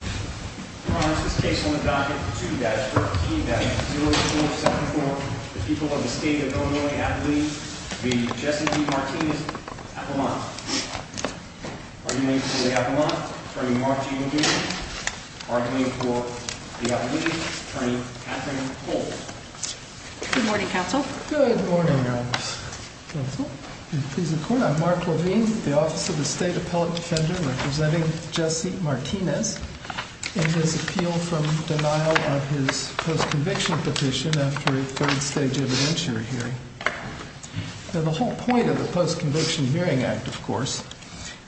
2-13-0247 for the people of the state of Illinois, Appalachian, the Jesse V. Martinez Appelmont. Arguing for the Appelmont, Attorney Mark G. Levine. Arguing for the Appalachians, Attorney Kathryn Holt. Good morning, Counsel. Good morning, Counsel. I'm Mark Levine, the Office of the State Appellate Defender, representing Jesse Martinez in his appeal from denial of his post-conviction petition after a third stage evidentiary hearing. Now, the whole point of the Post-Conviction Hearing Act, of course,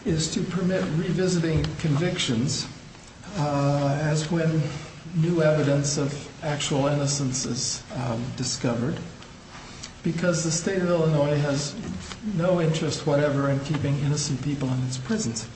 is to permit revisiting convictions as when new evidence of actual innocence is discovered, because the state of Illinois has no interest whatever in keeping innocent people in its prisons.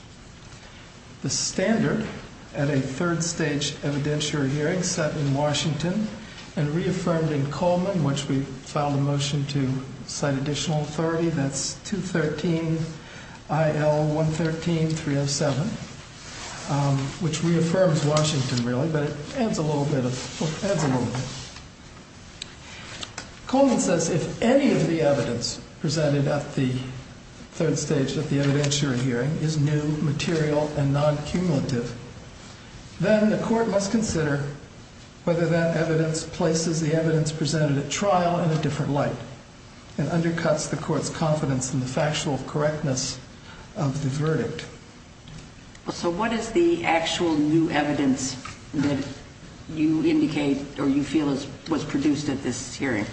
The standard at a third stage evidentiary hearing set in Washington and reaffirmed in Coleman, which we filed a motion to cite additional authority, that's 2-13-IL-113-307, which reaffirms Washington, really, but it adds a little bit of, well, adds a little bit. Coleman says if any of the evidence presented at the third stage of the evidentiary hearing is new, material, and non-cumulative, then the court must consider whether that evidence places the evidence presented at trial in a different light and undercuts the court's confidence in the factual correctness of the verdict. So what is the actual new evidence that you indicate or you feel was produced at this hearing?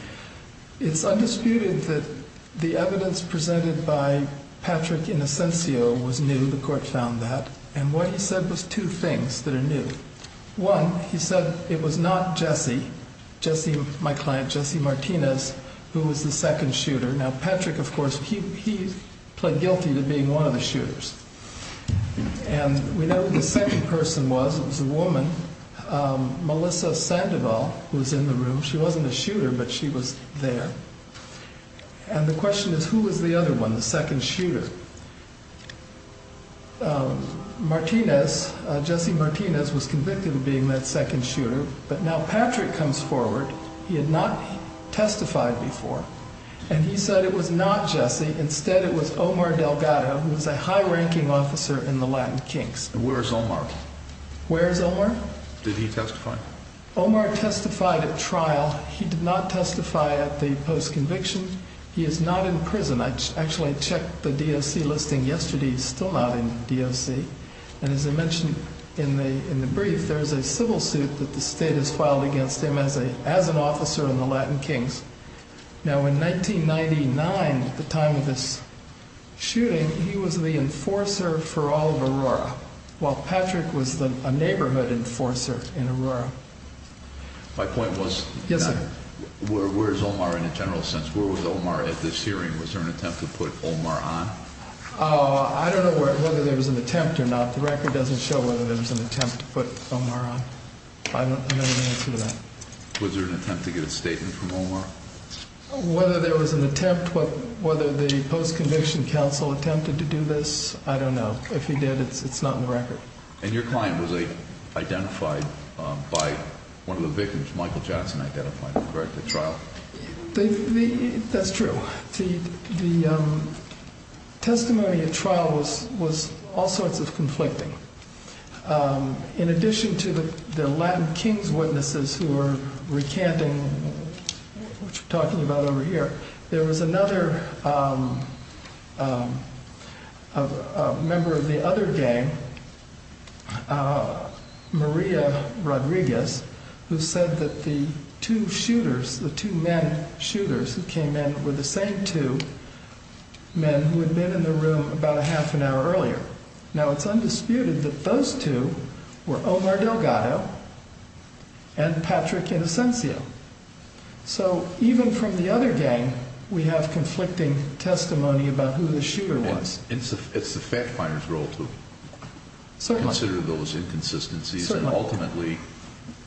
It's undisputed that the evidence presented by Patrick Innocencio was new, the court found that, and what he said was two things that are new. One, he said it was not Jesse, my client, Jesse Martinez, who was the second shooter. Now, Patrick, of course, he pled guilty to being one of the shooters, and we know who the second person was. It was a woman, Melissa Sandoval, who was in the room. She wasn't a shooter, but she was there, and the question is who was the other one, the second shooter? Martinez, Jesse Martinez, was convicted of being that second shooter, but now Patrick comes forward. He had not testified before, and he said it was not Jesse. Instead, it was Omar Delgado, who was a high-ranking officer in the Latin Kinks. Where is Omar? Where is Omar? Did he testify? Omar testified at trial. He did not testify at the post-conviction. He is not in prison. I actually checked the DOC listing yesterday. He's still not in DOC. And as I mentioned in the brief, there is a civil suit that the state has filed against him as an officer in the Latin Kinks. Now, in 1999, at the time of this shooting, he was the enforcer for all of Aurora, while Patrick was a neighborhood enforcer in Aurora. My point was, where is Omar in a general sense? Where was Omar at this hearing? Was there an attempt to put Omar on? I don't know whether there was an attempt or not. The record doesn't show whether there was an attempt to put Omar on. I don't know the answer to that. Was there an attempt to get a statement from Omar? Whether there was an attempt, whether the post-conviction counsel attempted to do this, I don't know. If he did, it's not in the record. And your client was identified by one of the victims, Michael Johnson, identified, correct, at trial? That's true. The testimony at trial was all sorts of conflicting. In addition to the Latin Kinks witnesses who were recanting what you're talking about over here, there was another member of the other gang, Maria Rodriguez, who said that the two shooters, the two men shooters who came in were the same two men who had been in the room about a half an hour earlier. Now, it's undisputed that those two were Omar Delgado and Patrick Inocencio. So even from the other gang, we have conflicting testimony about who the shooter was. It's the fact finder's role to consider those inconsistencies, and ultimately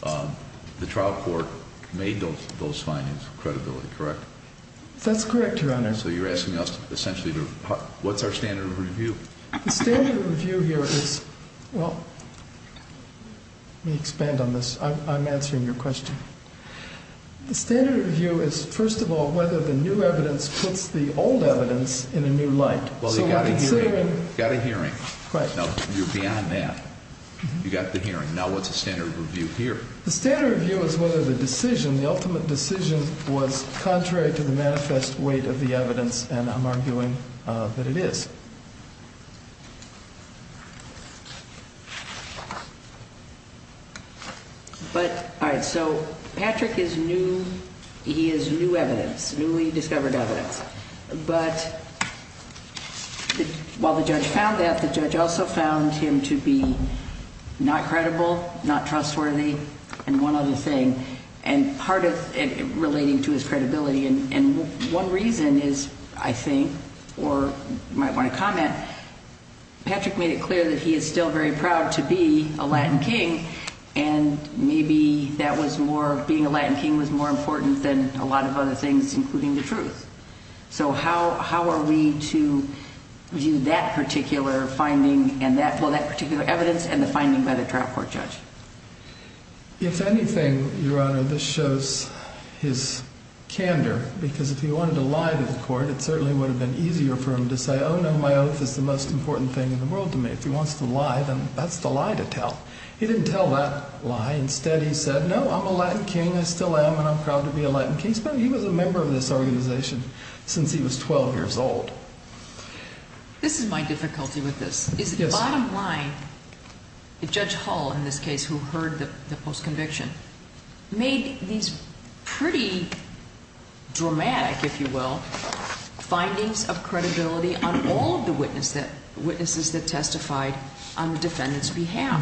the trial court made those findings credibility, correct? That's correct, Your Honor. So you're asking us essentially what's our standard of review? The standard of review here is, well, let me expand on this. I'm answering your question. The standard of review is, first of all, whether the new evidence puts the old evidence in a new light. Well, you've got a hearing. You've got a hearing. Right. You're beyond that. You've got the hearing. Now, what's the standard of review here? The standard of review is whether the decision, the ultimate decision, was contrary to the manifest weight of the evidence, and I'm arguing that it is. All right. So Patrick is new. He is new evidence, newly discovered evidence. But while the judge found that, the judge also found him to be not credible, not trustworthy, and one other thing, and part of it relating to his credibility. And one reason is, I think, or you might want to comment, Patrick made it clear that he is still very proud to be a Latin king, and maybe that was more, being a Latin king was more important than a lot of other things, including the truth. So how are we to view that particular finding and that particular evidence and the finding by the trial court judge? If anything, Your Honor, this shows his candor, because if he wanted to lie to the court, it certainly would have been easier for him to say, oh, no, my oath is the most important thing in the world to me. If he wants to lie, then that's the lie to tell. He didn't tell that lie. Instead, he said, no, I'm a Latin king. I still am, and I'm proud to be a Latin king. He was a member of this organization since he was 12 years old. This is my difficulty with this. The bottom line, Judge Hall, in this case, who heard the post-conviction, made these pretty dramatic, if you will, findings of credibility on all of the witnesses that testified on the defendant's behalf.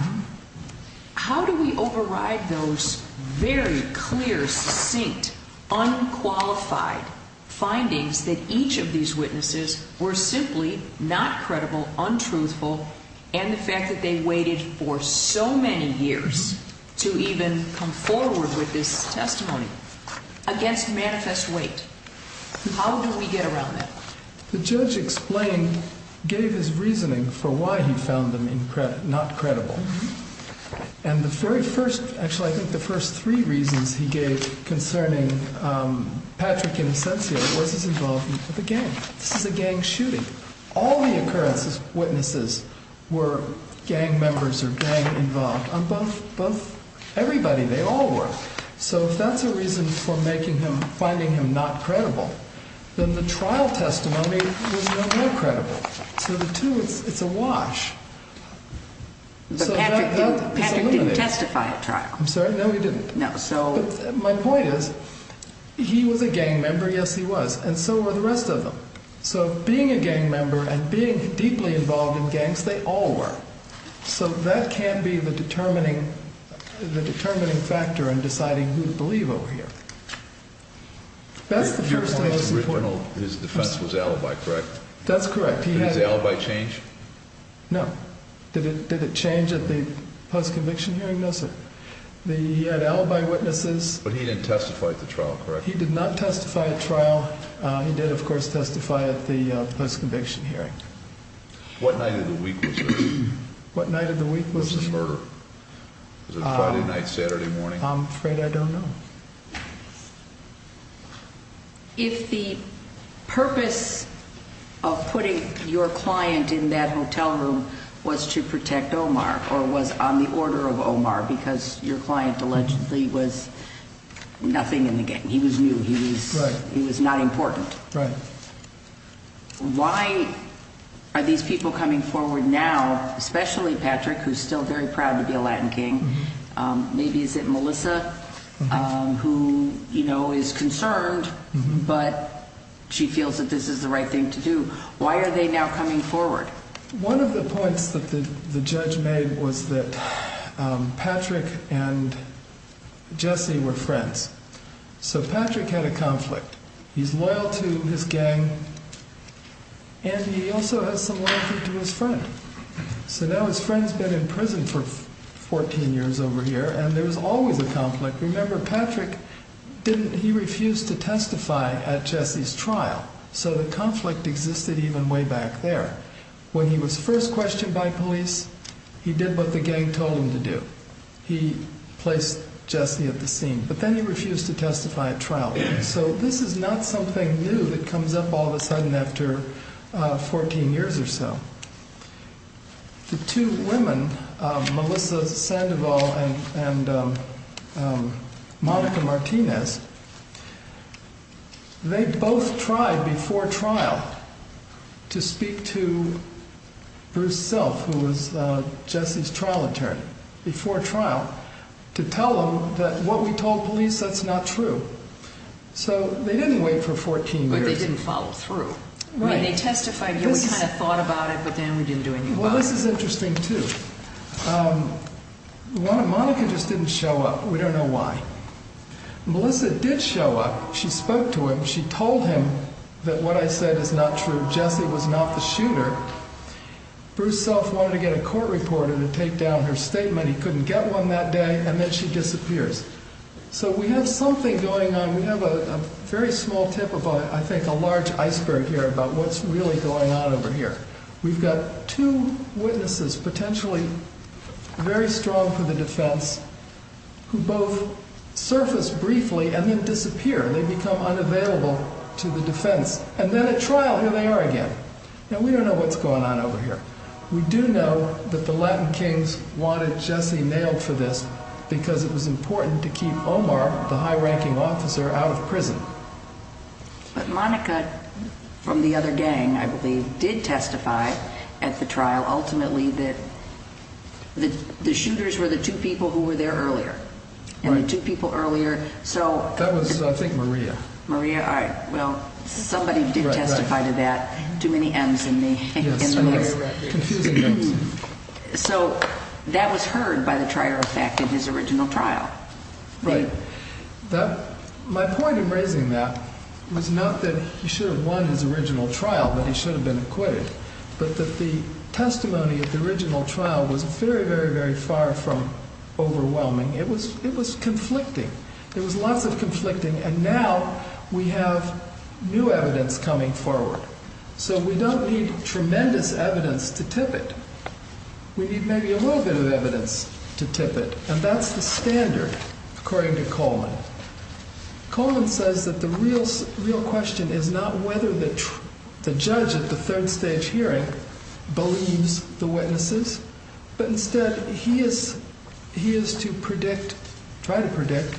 How do we override those very clear, succinct, unqualified findings that each of these witnesses were simply not credible, untruthful, and the fact that they waited for so many years to even come forward with this testimony against manifest weight? How do we get around that? The judge explained, gave his reasoning for why he found them not credible, and the very first, actually I think the first three reasons he gave concerning Patrick Innocencio was his involvement with a gang. This is a gang shooting. All the occurrences, witnesses, were gang members or gang involved. Everybody, they all were. So if that's a reason for making him, finding him not credible, then the trial testimony was no more credible. So the two, it's a wash. But Patrick didn't testify at trial. I'm sorry, no he didn't. No, so. My point is, he was a gang member, yes he was, and so were the rest of them. So being a gang member and being deeply involved in gangs, they all were. So that can be the determining factor in deciding who to believe over here. That's the first and most important. His defense was alibi, correct? That's correct. Did his alibi change? No. Did it change at the post-conviction hearing? No, sir. He had alibi witnesses. But he didn't testify at the trial, correct? He did not testify at trial. He did, of course, testify at the post-conviction hearing. What night of the week was this? What night of the week was this? What was his murder? Was it Friday night, Saturday morning? I'm afraid I don't know. If the purpose of putting your client in that hotel room was to protect Omar, or was on the order of Omar, because your client allegedly was nothing in the gang, he was new, he was not important. Right. Why are these people coming forward now, especially Patrick, who's still very proud to be a Latin king? Maybe is it Melissa, who is concerned, but she feels that this is the right thing to do. Why are they now coming forward? One of the points that the judge made was that Patrick and Jesse were friends. So Patrick had a conflict. He's loyal to his gang, and he also has some loyalty to his friend. So now his friend's been in prison for 14 years over here, and there's always a conflict. Remember, Patrick refused to testify at Jesse's trial, so the conflict existed even way back there. When he was first questioned by police, he did what the gang told him to do. He placed Jesse at the scene, but then he refused to testify at trial. So this is not something new that comes up all of a sudden after 14 years or so. The two women, Melissa Sandoval and Monica Martinez, they both tried before trial to speak to Bruce Self, who was Jesse's trial attorney, before trial, to tell him that what we told police, that's not true. So they didn't wait for 14 years. But they didn't follow through. Right. I mean, they testified, and we kind of thought about it, but then we didn't do anything about it. Well, this is interesting, too. Monica just didn't show up. We don't know why. Melissa did show up. She spoke to him. She told him that what I said is not true. Jesse was not the shooter. Bruce Self wanted to get a court reporter to take down her statement. He couldn't get one that day, and then she disappears. So we have something going on. We have a very small tip of, I think, a large iceberg here about what's really going on over here. We've got two witnesses, potentially very strong for the defense, who both surface briefly and then disappear. They become unavailable to the defense. And then at trial, here they are again. Now, we don't know what's going on over here. We do know that the Latin Kings wanted Jesse nailed for this because it was important to keep Omar, the high-ranking officer, out of prison. But Monica, from the other gang, I believe, did testify at the trial, ultimately, that the shooters were the two people who were there earlier. Right. And the two people earlier. That was, I think, Maria. Maria. All right. Somebody did testify to that. Too many M's in the list. Yes, confusing numbers. So that was heard by the trier of fact at his original trial. Right. My point in raising that was not that he should have won his original trial, that he should have been acquitted, but that the testimony at the original trial was very, very, very far from overwhelming. It was conflicting. It was lots of conflicting. And now we have new evidence coming forward. So we don't need tremendous evidence to tip it. We need maybe a little bit of evidence to tip it. And that's the standard, according to Coleman. Coleman says that the real question is not whether the judge at the third stage hearing believes the witnesses, but instead he is to predict, try to predict,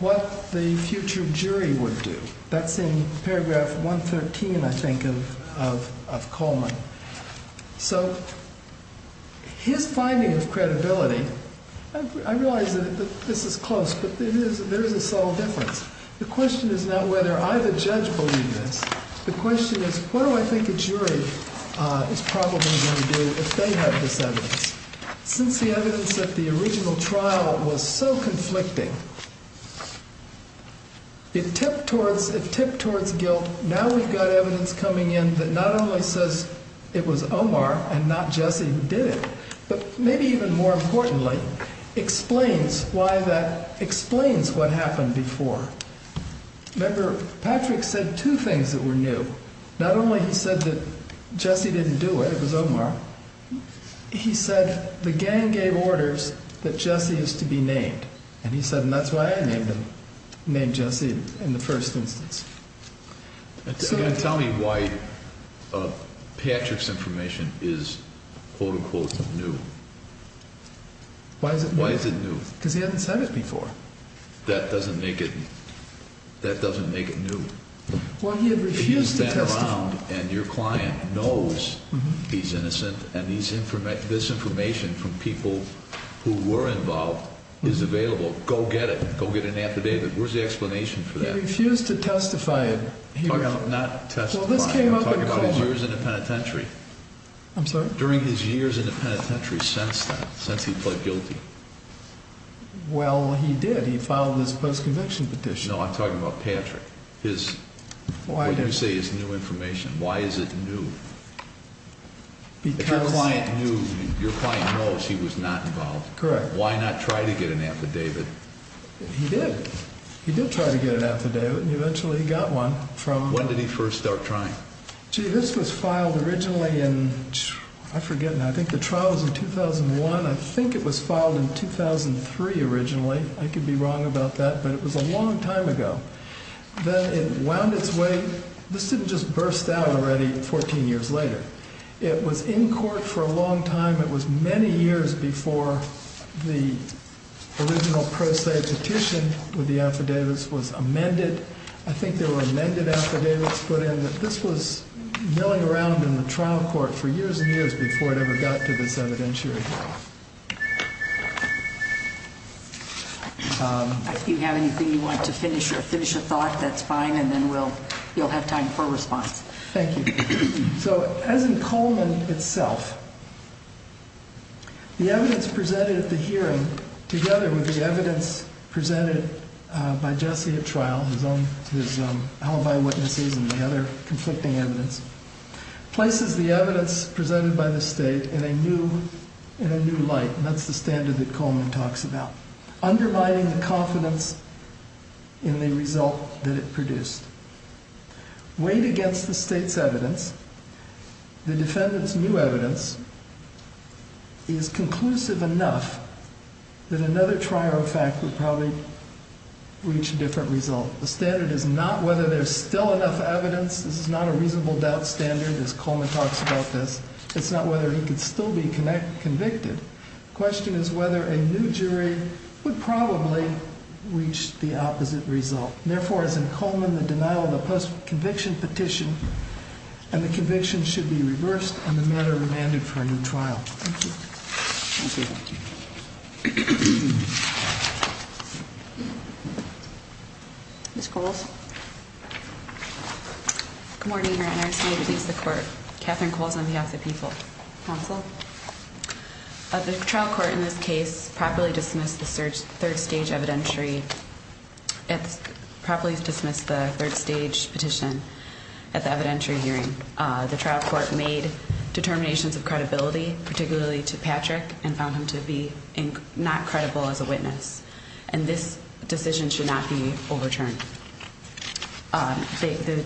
what the future jury would do. That's in paragraph 113, I think, of Coleman. So his finding of credibility, I realize that this is close, but there is a subtle difference. The question is not whether either judge believes this. The question is what do I think a jury is probably going to do if they have this evidence. Since the evidence at the original trial was so conflicting, it tipped towards guilt. So now we've got evidence coming in that not only says it was Omar and not Jesse who did it, but maybe even more importantly explains why that explains what happened before. Remember, Patrick said two things that were new. Not only he said that Jesse didn't do it, it was Omar. He said the gang gave orders that Jesse is to be named. And he said, and that's why I named him, named Jesse in the first instance. Tell me why Patrick's information is, quote, unquote, new. Why is it new? Because he hadn't said it before. That doesn't make it new. Well, he had refused to testify. And your client knows he's innocent, and this information from people who were involved is available. Go get it. Go get an affidavit. Where's the explanation for that? He refused to testify. Not testify. Well, this came up in court. I'm talking about his years in the penitentiary. I'm sorry? During his years in the penitentiary since then, since he pled guilty. Well, he did. He filed his post-conviction petition. No, I'm talking about Patrick. What do you say is new information? Why is it new? Because. If your client knew, your client knows he was not involved. Correct. Why not try to get an affidavit? He did. He did try to get an affidavit, and eventually he got one from... When did he first start trying? Gee, this was filed originally in, I forget now, I think the trial was in 2001. I think it was filed in 2003 originally. I could be wrong about that, but it was a long time ago. Then it wound its way... This didn't just burst out already 14 years later. It was in court for a long time. It was many years before the original pro se petition with the affidavits was amended. I think there were amended affidavits put in. This was milling around in the trial court for years and years before it ever got to this evidentiary. If you have anything you want to finish or finish a thought, that's fine, and then you'll have time for a response. Thank you. So as in Coleman itself, the evidence presented at the hearing together with the evidence presented by Jesse at trial, his alibi witnesses and the other conflicting evidence, places the evidence presented by the state in a new light, and that's the standard that Coleman talks about, undermining the confidence in the result that it produced. Weighed against the state's evidence, the defendant's new evidence is conclusive enough that another trial in fact would probably reach a different result. The standard is not whether there's still enough evidence. This is not a reasonable doubt standard, as Coleman talks about this. It's not whether he could still be convicted. The question is whether a new jury would probably reach the opposite result. Therefore, as in Coleman, the denial of the post-conviction petition and the conviction should be reversed, and the matter remanded for a new trial. Thank you. Thank you. Thank you. Ms. Coles. Good morning, Your Honor. It's me to release the court. Catherine Coles on behalf of the people. Counsel. The trial court in this case properly dismissed the third stage evidentiary. It properly dismissed the third stage petition at the evidentiary hearing. The trial court made determinations of credibility, particularly to Patrick, and found him to be not credible as a witness. And this decision should not be overturned. The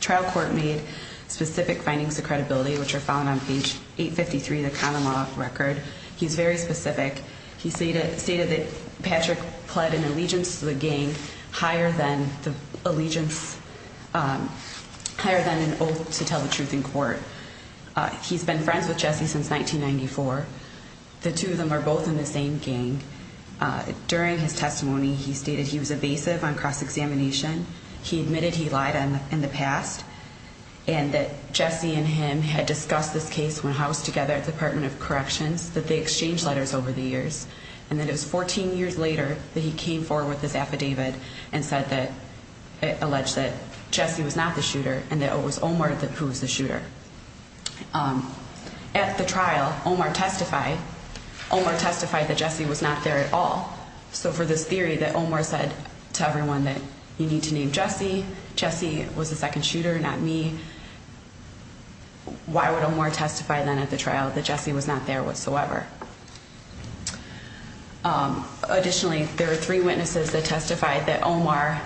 trial court made specific findings of credibility, which are found on page 853 of the common law record. He's very specific. He stated that Patrick pled an allegiance to the gang higher than an oath to tell the truth in court. He's been friends with Jesse since 1994. The two of them are both in the same gang. During his testimony, he stated he was evasive on cross-examination. He admitted he lied in the past and that Jesse and him had discussed this case when housed together at the Department of Corrections, that they exchanged letters over the years, and that it was 14 years later that he came forward with this affidavit and said that he alleged that Jesse was not the shooter and that it was Omar who was the shooter. At the trial, Omar testified. Omar testified that Jesse was not there at all. So for this theory that Omar said to everyone that you need to name Jesse, Jesse was the second shooter, not me, why would Omar testify then at the trial that Jesse was not there whatsoever? Additionally, there are three witnesses that testified that Omar,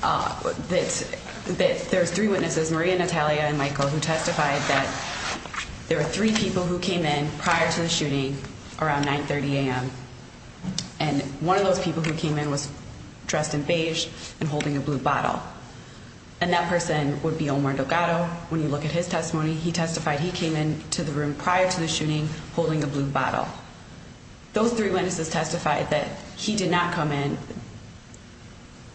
that there's three witnesses, Maria, Natalia, and Michael, who testified that there were three people who came in prior to the shooting around 930 a.m. And one of those people who came in was dressed in beige and holding a blue bottle. And that person would be Omar Delgado. When you look at his testimony, he testified he came in to the room prior to the shooting holding a blue bottle. Those three witnesses testified that he did not come in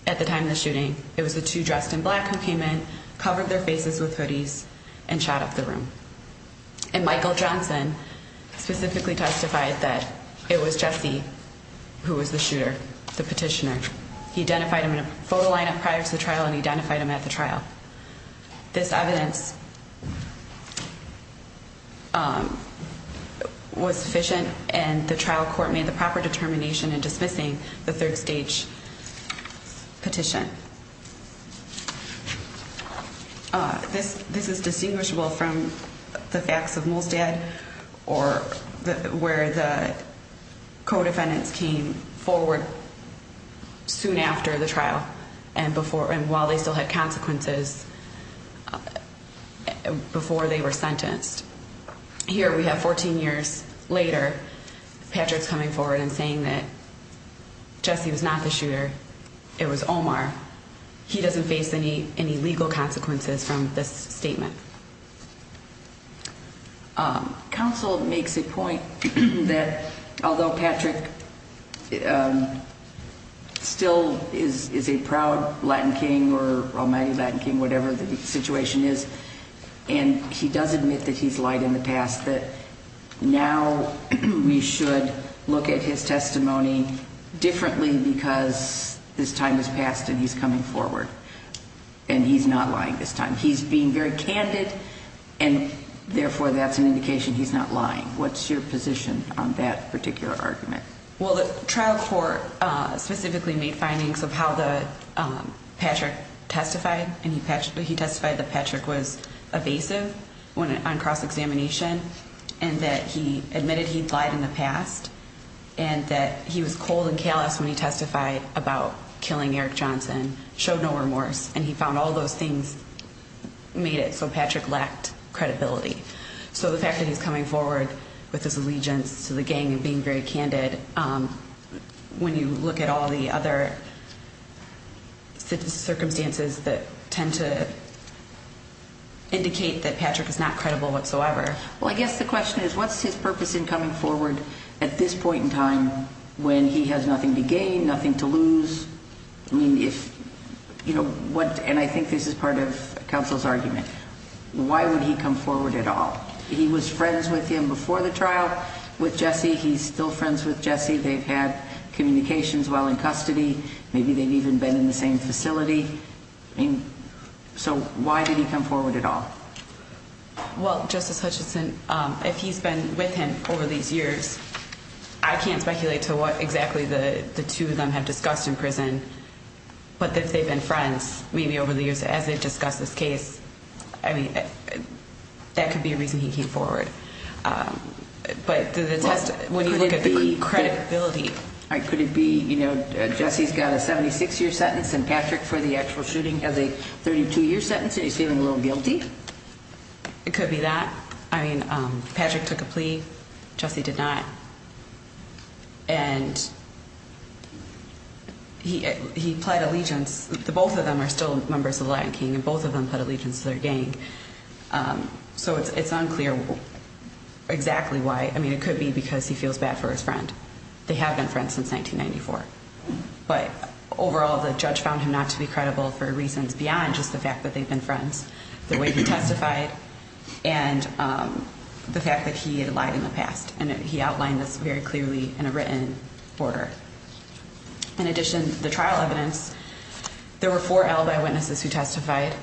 at the time of the shooting. It was the two dressed in black who came in, covered their faces with hoodies, and shot up the room. And Michael Johnson specifically testified that it was Jesse who was the shooter, the petitioner. He identified him in a photo lineup prior to the trial and identified him at the trial. This evidence was sufficient and the trial court made the proper determination in dismissing the third stage petition. This is distinguishable from the facts of Molstad or where the co-defendants came forward soon after the trial and while they still had consequences. Before they were sentenced. Here we have 14 years later, Patrick's coming forward and saying that Jesse was not the shooter, it was Omar. He doesn't face any legal consequences from this statement. Counsel makes a point that although Patrick still is a proud Latin King or almighty Latin King, whatever the situation is, and he does admit that he's lied in the past, that now we should look at his testimony differently because this time has passed and he's coming forward. And he's not lying this time. He's being very candid and therefore that's an indication he's not lying. What's your position on that particular argument? Well, the trial court specifically made findings of how Patrick testified. He testified that Patrick was evasive on cross-examination and that he admitted he'd lied in the past. And that he was cold and callous when he testified about killing Eric Johnson, showed no remorse. And he found all those things made it so Patrick lacked credibility. So the fact that he's coming forward with his allegiance to the gang and being very candid, when you look at all the other circumstances that tend to indicate that Patrick is not credible whatsoever. Well, I guess the question is what's his purpose in coming forward at this point in time when he has nothing to gain, nothing to lose? I mean, if you know what, and I think this is part of counsel's argument. Why would he come forward at all? He was friends with him before the trial with Jesse. He's still friends with Jesse. They've had communications while in custody. Maybe they've even been in the same facility. So why did he come forward at all? Well, Justice Hutchinson, if he's been with him over these years, I can't speculate to what exactly the two of them have discussed in prison. But if they've been friends, maybe over the years as they've discussed this case, that could be a reason he came forward. But when you look at the credibility... Could it be, you know, Jesse's got a 76-year sentence and Patrick for the actual shooting has a 32-year sentence and he's feeling a little guilty? It could be that. I mean, Patrick took a plea. Jesse did not. And he pled allegiance. Both of them are still members of the Lion King and both of them pled allegiance to their gang. So it's unclear exactly why. I mean, it could be because he feels bad for his friend. They have been friends since 1994. But overall, the judge found him not to be credible for reasons beyond just the fact that they've been friends, the way he testified, and the fact that he had lied in the past. And he outlined this very clearly in a written order. In addition, the trial evidence, there were four alibi witnesses who testified.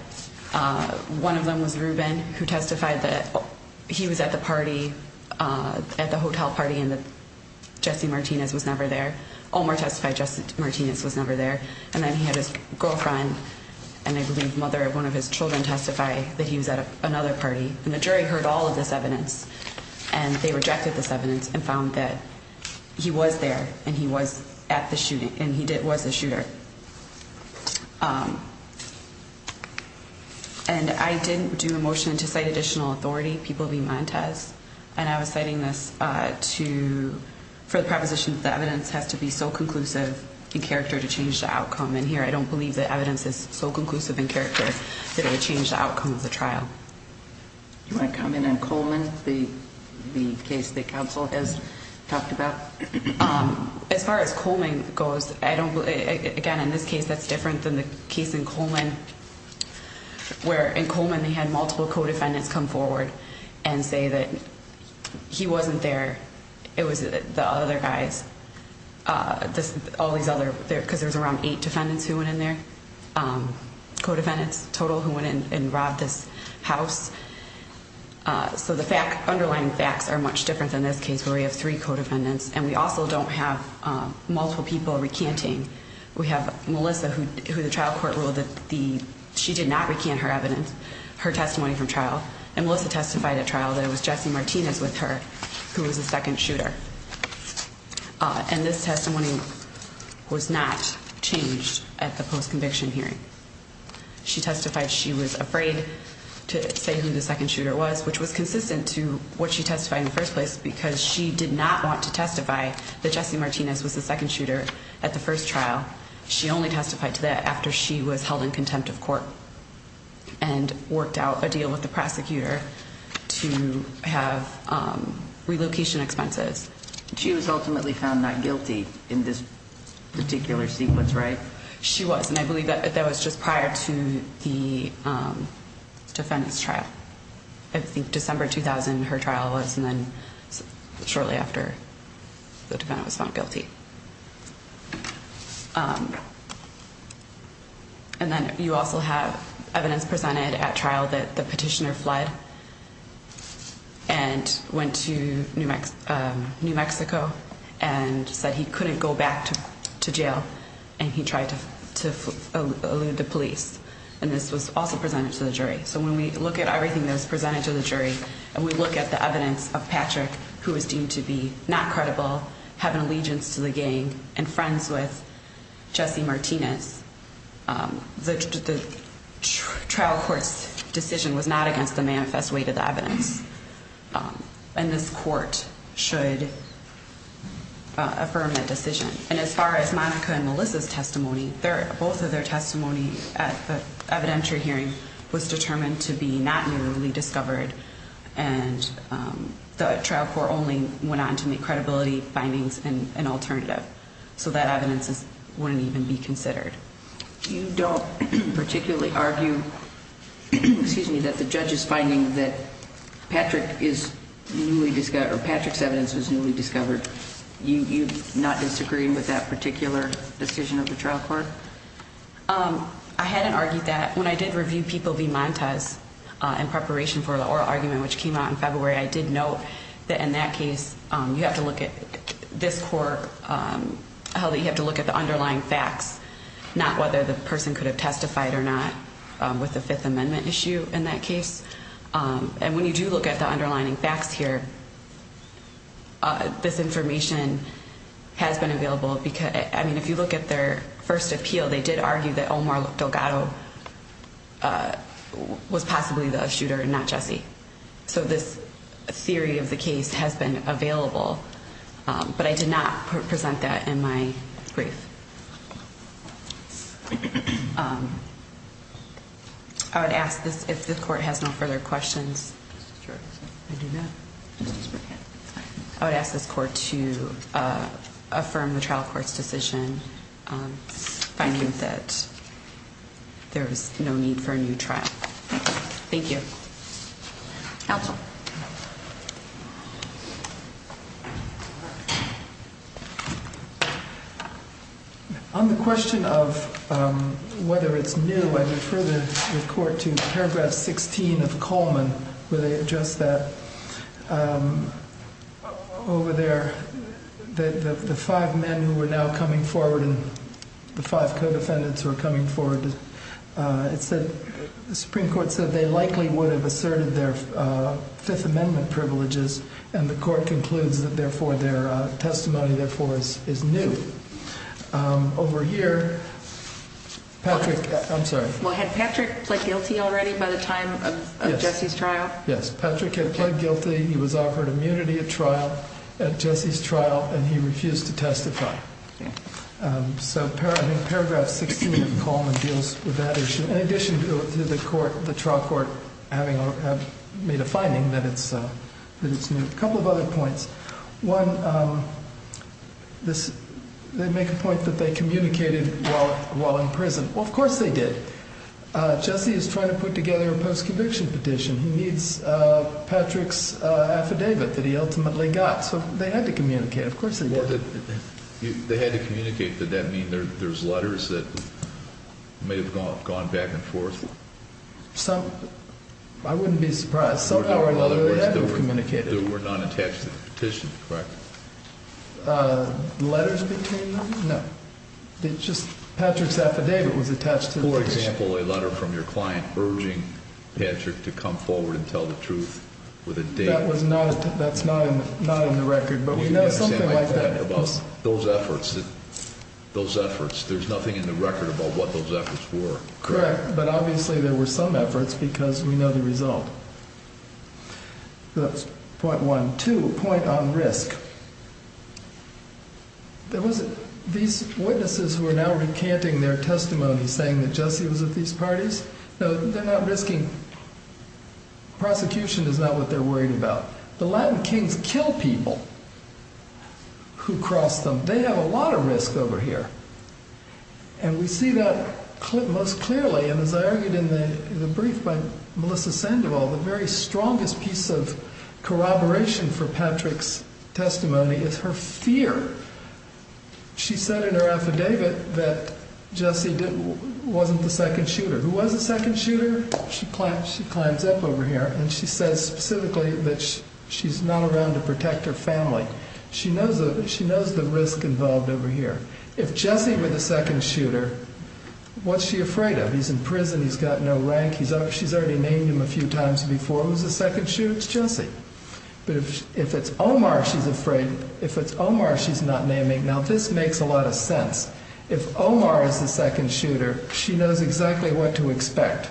One of them was Ruben, who testified that he was at the party, at the hotel party, and that Jesse Martinez was never there. Omar testified Jesse Martinez was never there. And then he had his girlfriend and I believe mother of one of his children testify that he was at another party. And the jury heard all of this evidence and they rejected this evidence and found that he was there and he was at the shooting and he was a shooter. And I didn't do a motion to cite additional authority. People be mind test. And I was citing this to for the proposition that evidence has to be so conclusive in character to change the outcome. And here I don't believe that evidence is so conclusive in character that it would change the outcome of the trial. My comment on Coleman, the case the council has talked about. As far as Coleman goes, I don't. Again, in this case, that's different than the case in Coleman, where in Coleman they had multiple co-defendants come forward and say that he wasn't there. It was the other guys, all these other, because there was around eight defendants who went in there. Co-defendants total who went in and robbed this house. So the underlying facts are much different than this case where we have three co-defendants and we also don't have multiple people recanting. We have Melissa, who the trial court ruled that she did not recant her evidence, her testimony from trial. And Melissa testified at trial that it was Jesse Martinez with her who was the second shooter. And this testimony was not changed at the post-conviction hearing. She testified she was afraid to say who the second shooter was, which was consistent to what she testified in the first place, because she did not want to testify that Jesse Martinez was the second shooter at the first trial. She only testified to that after she was held in contempt of court and worked out a deal with the prosecutor to have relocation expenses. She was ultimately found not guilty in this particular sequence, right? She was, and I believe that was just prior to the defendant's trial. I think December 2000 her trial was and then shortly after the defendant was found guilty. And then you also have evidence presented at trial that the petitioner fled and went to New Mexico and said he couldn't go back to jail and he tried to allude to police. And this was also presented to the jury. So when we look at everything that was presented to the jury and we look at the evidence of Patrick, who was deemed to be not credible, have an allegiance to the gang and friends with Jesse Martinez, the trial court's decision was not against the manifest weight of the evidence. And this court should affirm that decision. And as far as Monica and Melissa's testimony, both of their testimony at the evidentiary hearing was determined to be not newly discovered and the trial court only went on to make credibility findings and an alternative. So that evidence wouldn't even be considered. You don't particularly argue, excuse me, that the judge is finding that Patrick is newly discovered or Patrick's evidence was newly discovered. You not disagreeing with that particular decision of the trial court? I hadn't argued that when I did review people be Montez in preparation for the oral argument, which came out in February. I did note that in that case, you have to look at this court, how you have to look at the underlying facts, not whether the person could have testified or not with the Fifth Amendment issue in that case. And when you do look at the underlying facts here, this information has been available. I mean, if you look at their first appeal, they did argue that Omar Delgado was possibly the shooter and not Jesse. So this theory of the case has been available. But I did not present that in my brief. I would ask if the court has no further questions. I would ask this court to affirm the trial court's decision finding that there is no need for a new trial. Thank you. Counsel. On the question of whether it's new, I refer the court to paragraph 16 of Coleman where they address that. Over there, the five men who are now coming forward and the five co-defendants who are coming forward, it said the Supreme Court said they likely would have asserted their Fifth Amendment privileges. And the court concludes that, therefore, their testimony, therefore, is new. Over here, Patrick, I'm sorry. Well, had Patrick pled guilty already by the time of Jesse's trial? Yes, Patrick had pled guilty. He was offered immunity at trial, at Jesse's trial, and he refused to testify. So paragraph 16 of Coleman deals with that issue. In addition to the trial court having made a finding that it's new, a couple of other points. One, they make a point that they communicated while in prison. Well, of course they did. Jesse is trying to put together a post-conviction petition. He needs Patrick's affidavit that he ultimately got. So they had to communicate. Of course they did. They had to communicate. Did that mean there's letters that may have gone back and forth? I wouldn't be surprised. Somehow or another they had to have communicated. There were none attached to the petition, correct? Letters between them? No. Just Patrick's affidavit was attached to the petition. For example, a letter from your client urging Patrick to come forward and tell the truth with a date. That's not in the record, but we know something like that. Those efforts, there's nothing in the record about what those efforts were, correct? Correct, but obviously there were some efforts because we know the result. Point one. Two, a point on risk. These witnesses who are now recanting their testimony saying that Jesse was at these parties, no, they're not risking. Prosecution is not what they're worried about. The Latin kings kill people who cross them. They have a lot of risk over here. And we see that most clearly, and as I argued in the brief by Melissa Sandoval, the very strongest piece of corroboration for Patrick's testimony is her fear. She said in her affidavit that Jesse wasn't the second shooter. Who was the second shooter? She climbs up over here and she says specifically that she's not around to protect her family. She knows the risk involved over here. If Jesse were the second shooter, what's she afraid of? He's in prison. He's got no rank. She's already named him a few times before. Who's the second shooter? It's Jesse. But if it's Omar, she's afraid. If it's Omar, she's not naming. Now, this makes a lot of sense. If Omar is the second shooter, she knows exactly what to expect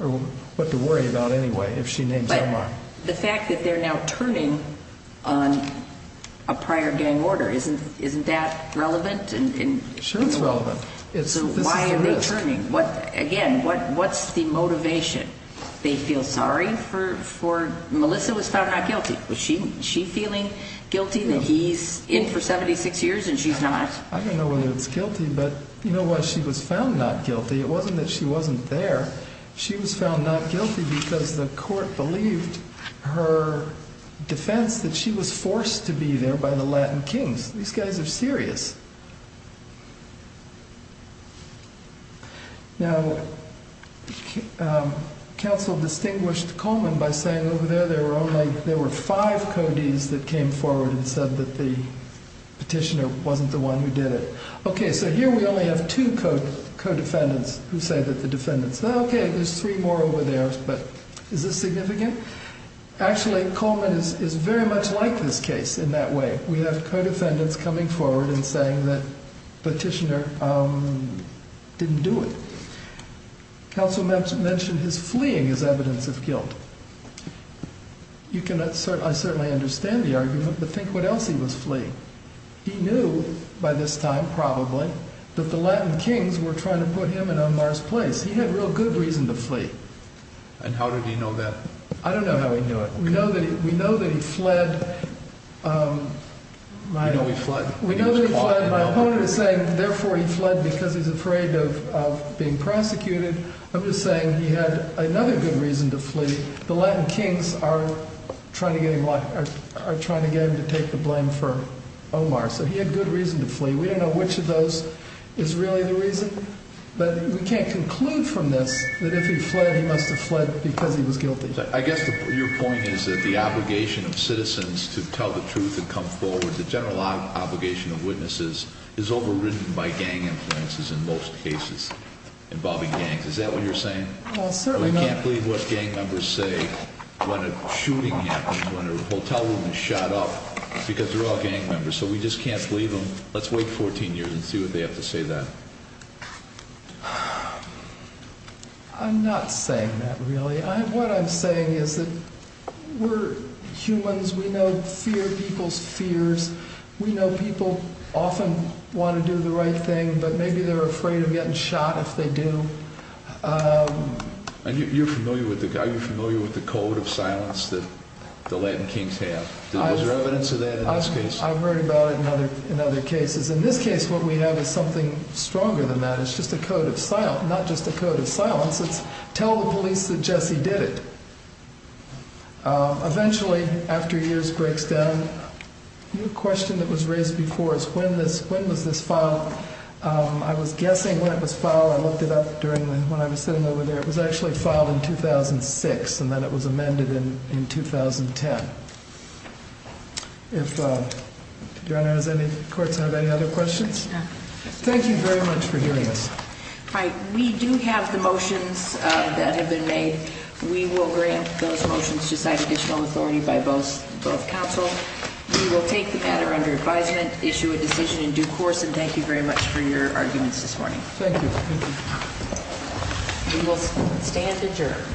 or what to worry about anyway if she names Omar. But the fact that they're now turning on a prior gang order, isn't that relevant? Sure, it's relevant. So why are they turning? Again, what's the motivation? They feel sorry for Melissa was found not guilty. Was she feeling guilty that he's in for 76 years and she's not? I don't know whether it's guilty, but you know what? She was found not guilty. It wasn't that she wasn't there. She was found not guilty because the court believed her defense that she was forced to be there by the Latin kings. These guys are serious. Now, counsel distinguished Coleman by saying over there there were five codees that came forward and said that the petitioner wasn't the one who did it. Okay, so here we only have two co-defendants who say that the defendants. Okay, there's three more over there, but is this significant? Actually, Coleman is very much like this case in that way. We have co-defendants coming forward and saying that petitioner didn't do it. Counsel mentioned his fleeing as evidence of guilt. I certainly understand the argument, but think what else he was fleeing. He knew by this time probably that the Latin kings were trying to put him in Omar's place. He had real good reason to flee. And how did he know that? I don't know how he knew it. We know that he fled. We know he fled. My opponent is saying therefore he fled because he's afraid of being prosecuted. I'm just saying he had another good reason to flee. The Latin kings are trying to get him to take the blame for Omar, so he had good reason to flee. We don't know which of those is really the reason. But we can't conclude from this that if he fled, he must have fled because he was guilty. I guess your point is that the obligation of citizens to tell the truth and come forward, the general obligation of witnesses is overridden by gang influences in most cases involving gangs. Is that what you're saying? We can't believe what gang members say when a shooting happens, when a hotel room is shot up, because they're all gang members, so we just can't believe them. Let's wait 14 years and see what they have to say then. I'm not saying that really. What I'm saying is that we're humans. We know people's fears. We know people often want to do the right thing, but maybe they're afraid of getting shot if they do. You're familiar with the code of silence that the Latin kings have. Is there evidence of that in this case? I've heard about it in other cases. In this case, what we have is something stronger than that. It's not just a code of silence. It's tell the police that Jesse did it. Eventually, after years breaks down, the question that was raised before is when was this filed? I was guessing when it was filed. I looked it up when I was sitting over there. It was actually filed in 2006, and then it was amended in 2010. Do I know if the courts have any other questions? No. Thank you very much for hearing us. We do have the motions that have been made. We will grant those motions to cite additional authority by both counsel. We will take the matter under advisement, issue a decision in due course, and thank you very much for your arguments this morning. Thank you. We will stand adjourned.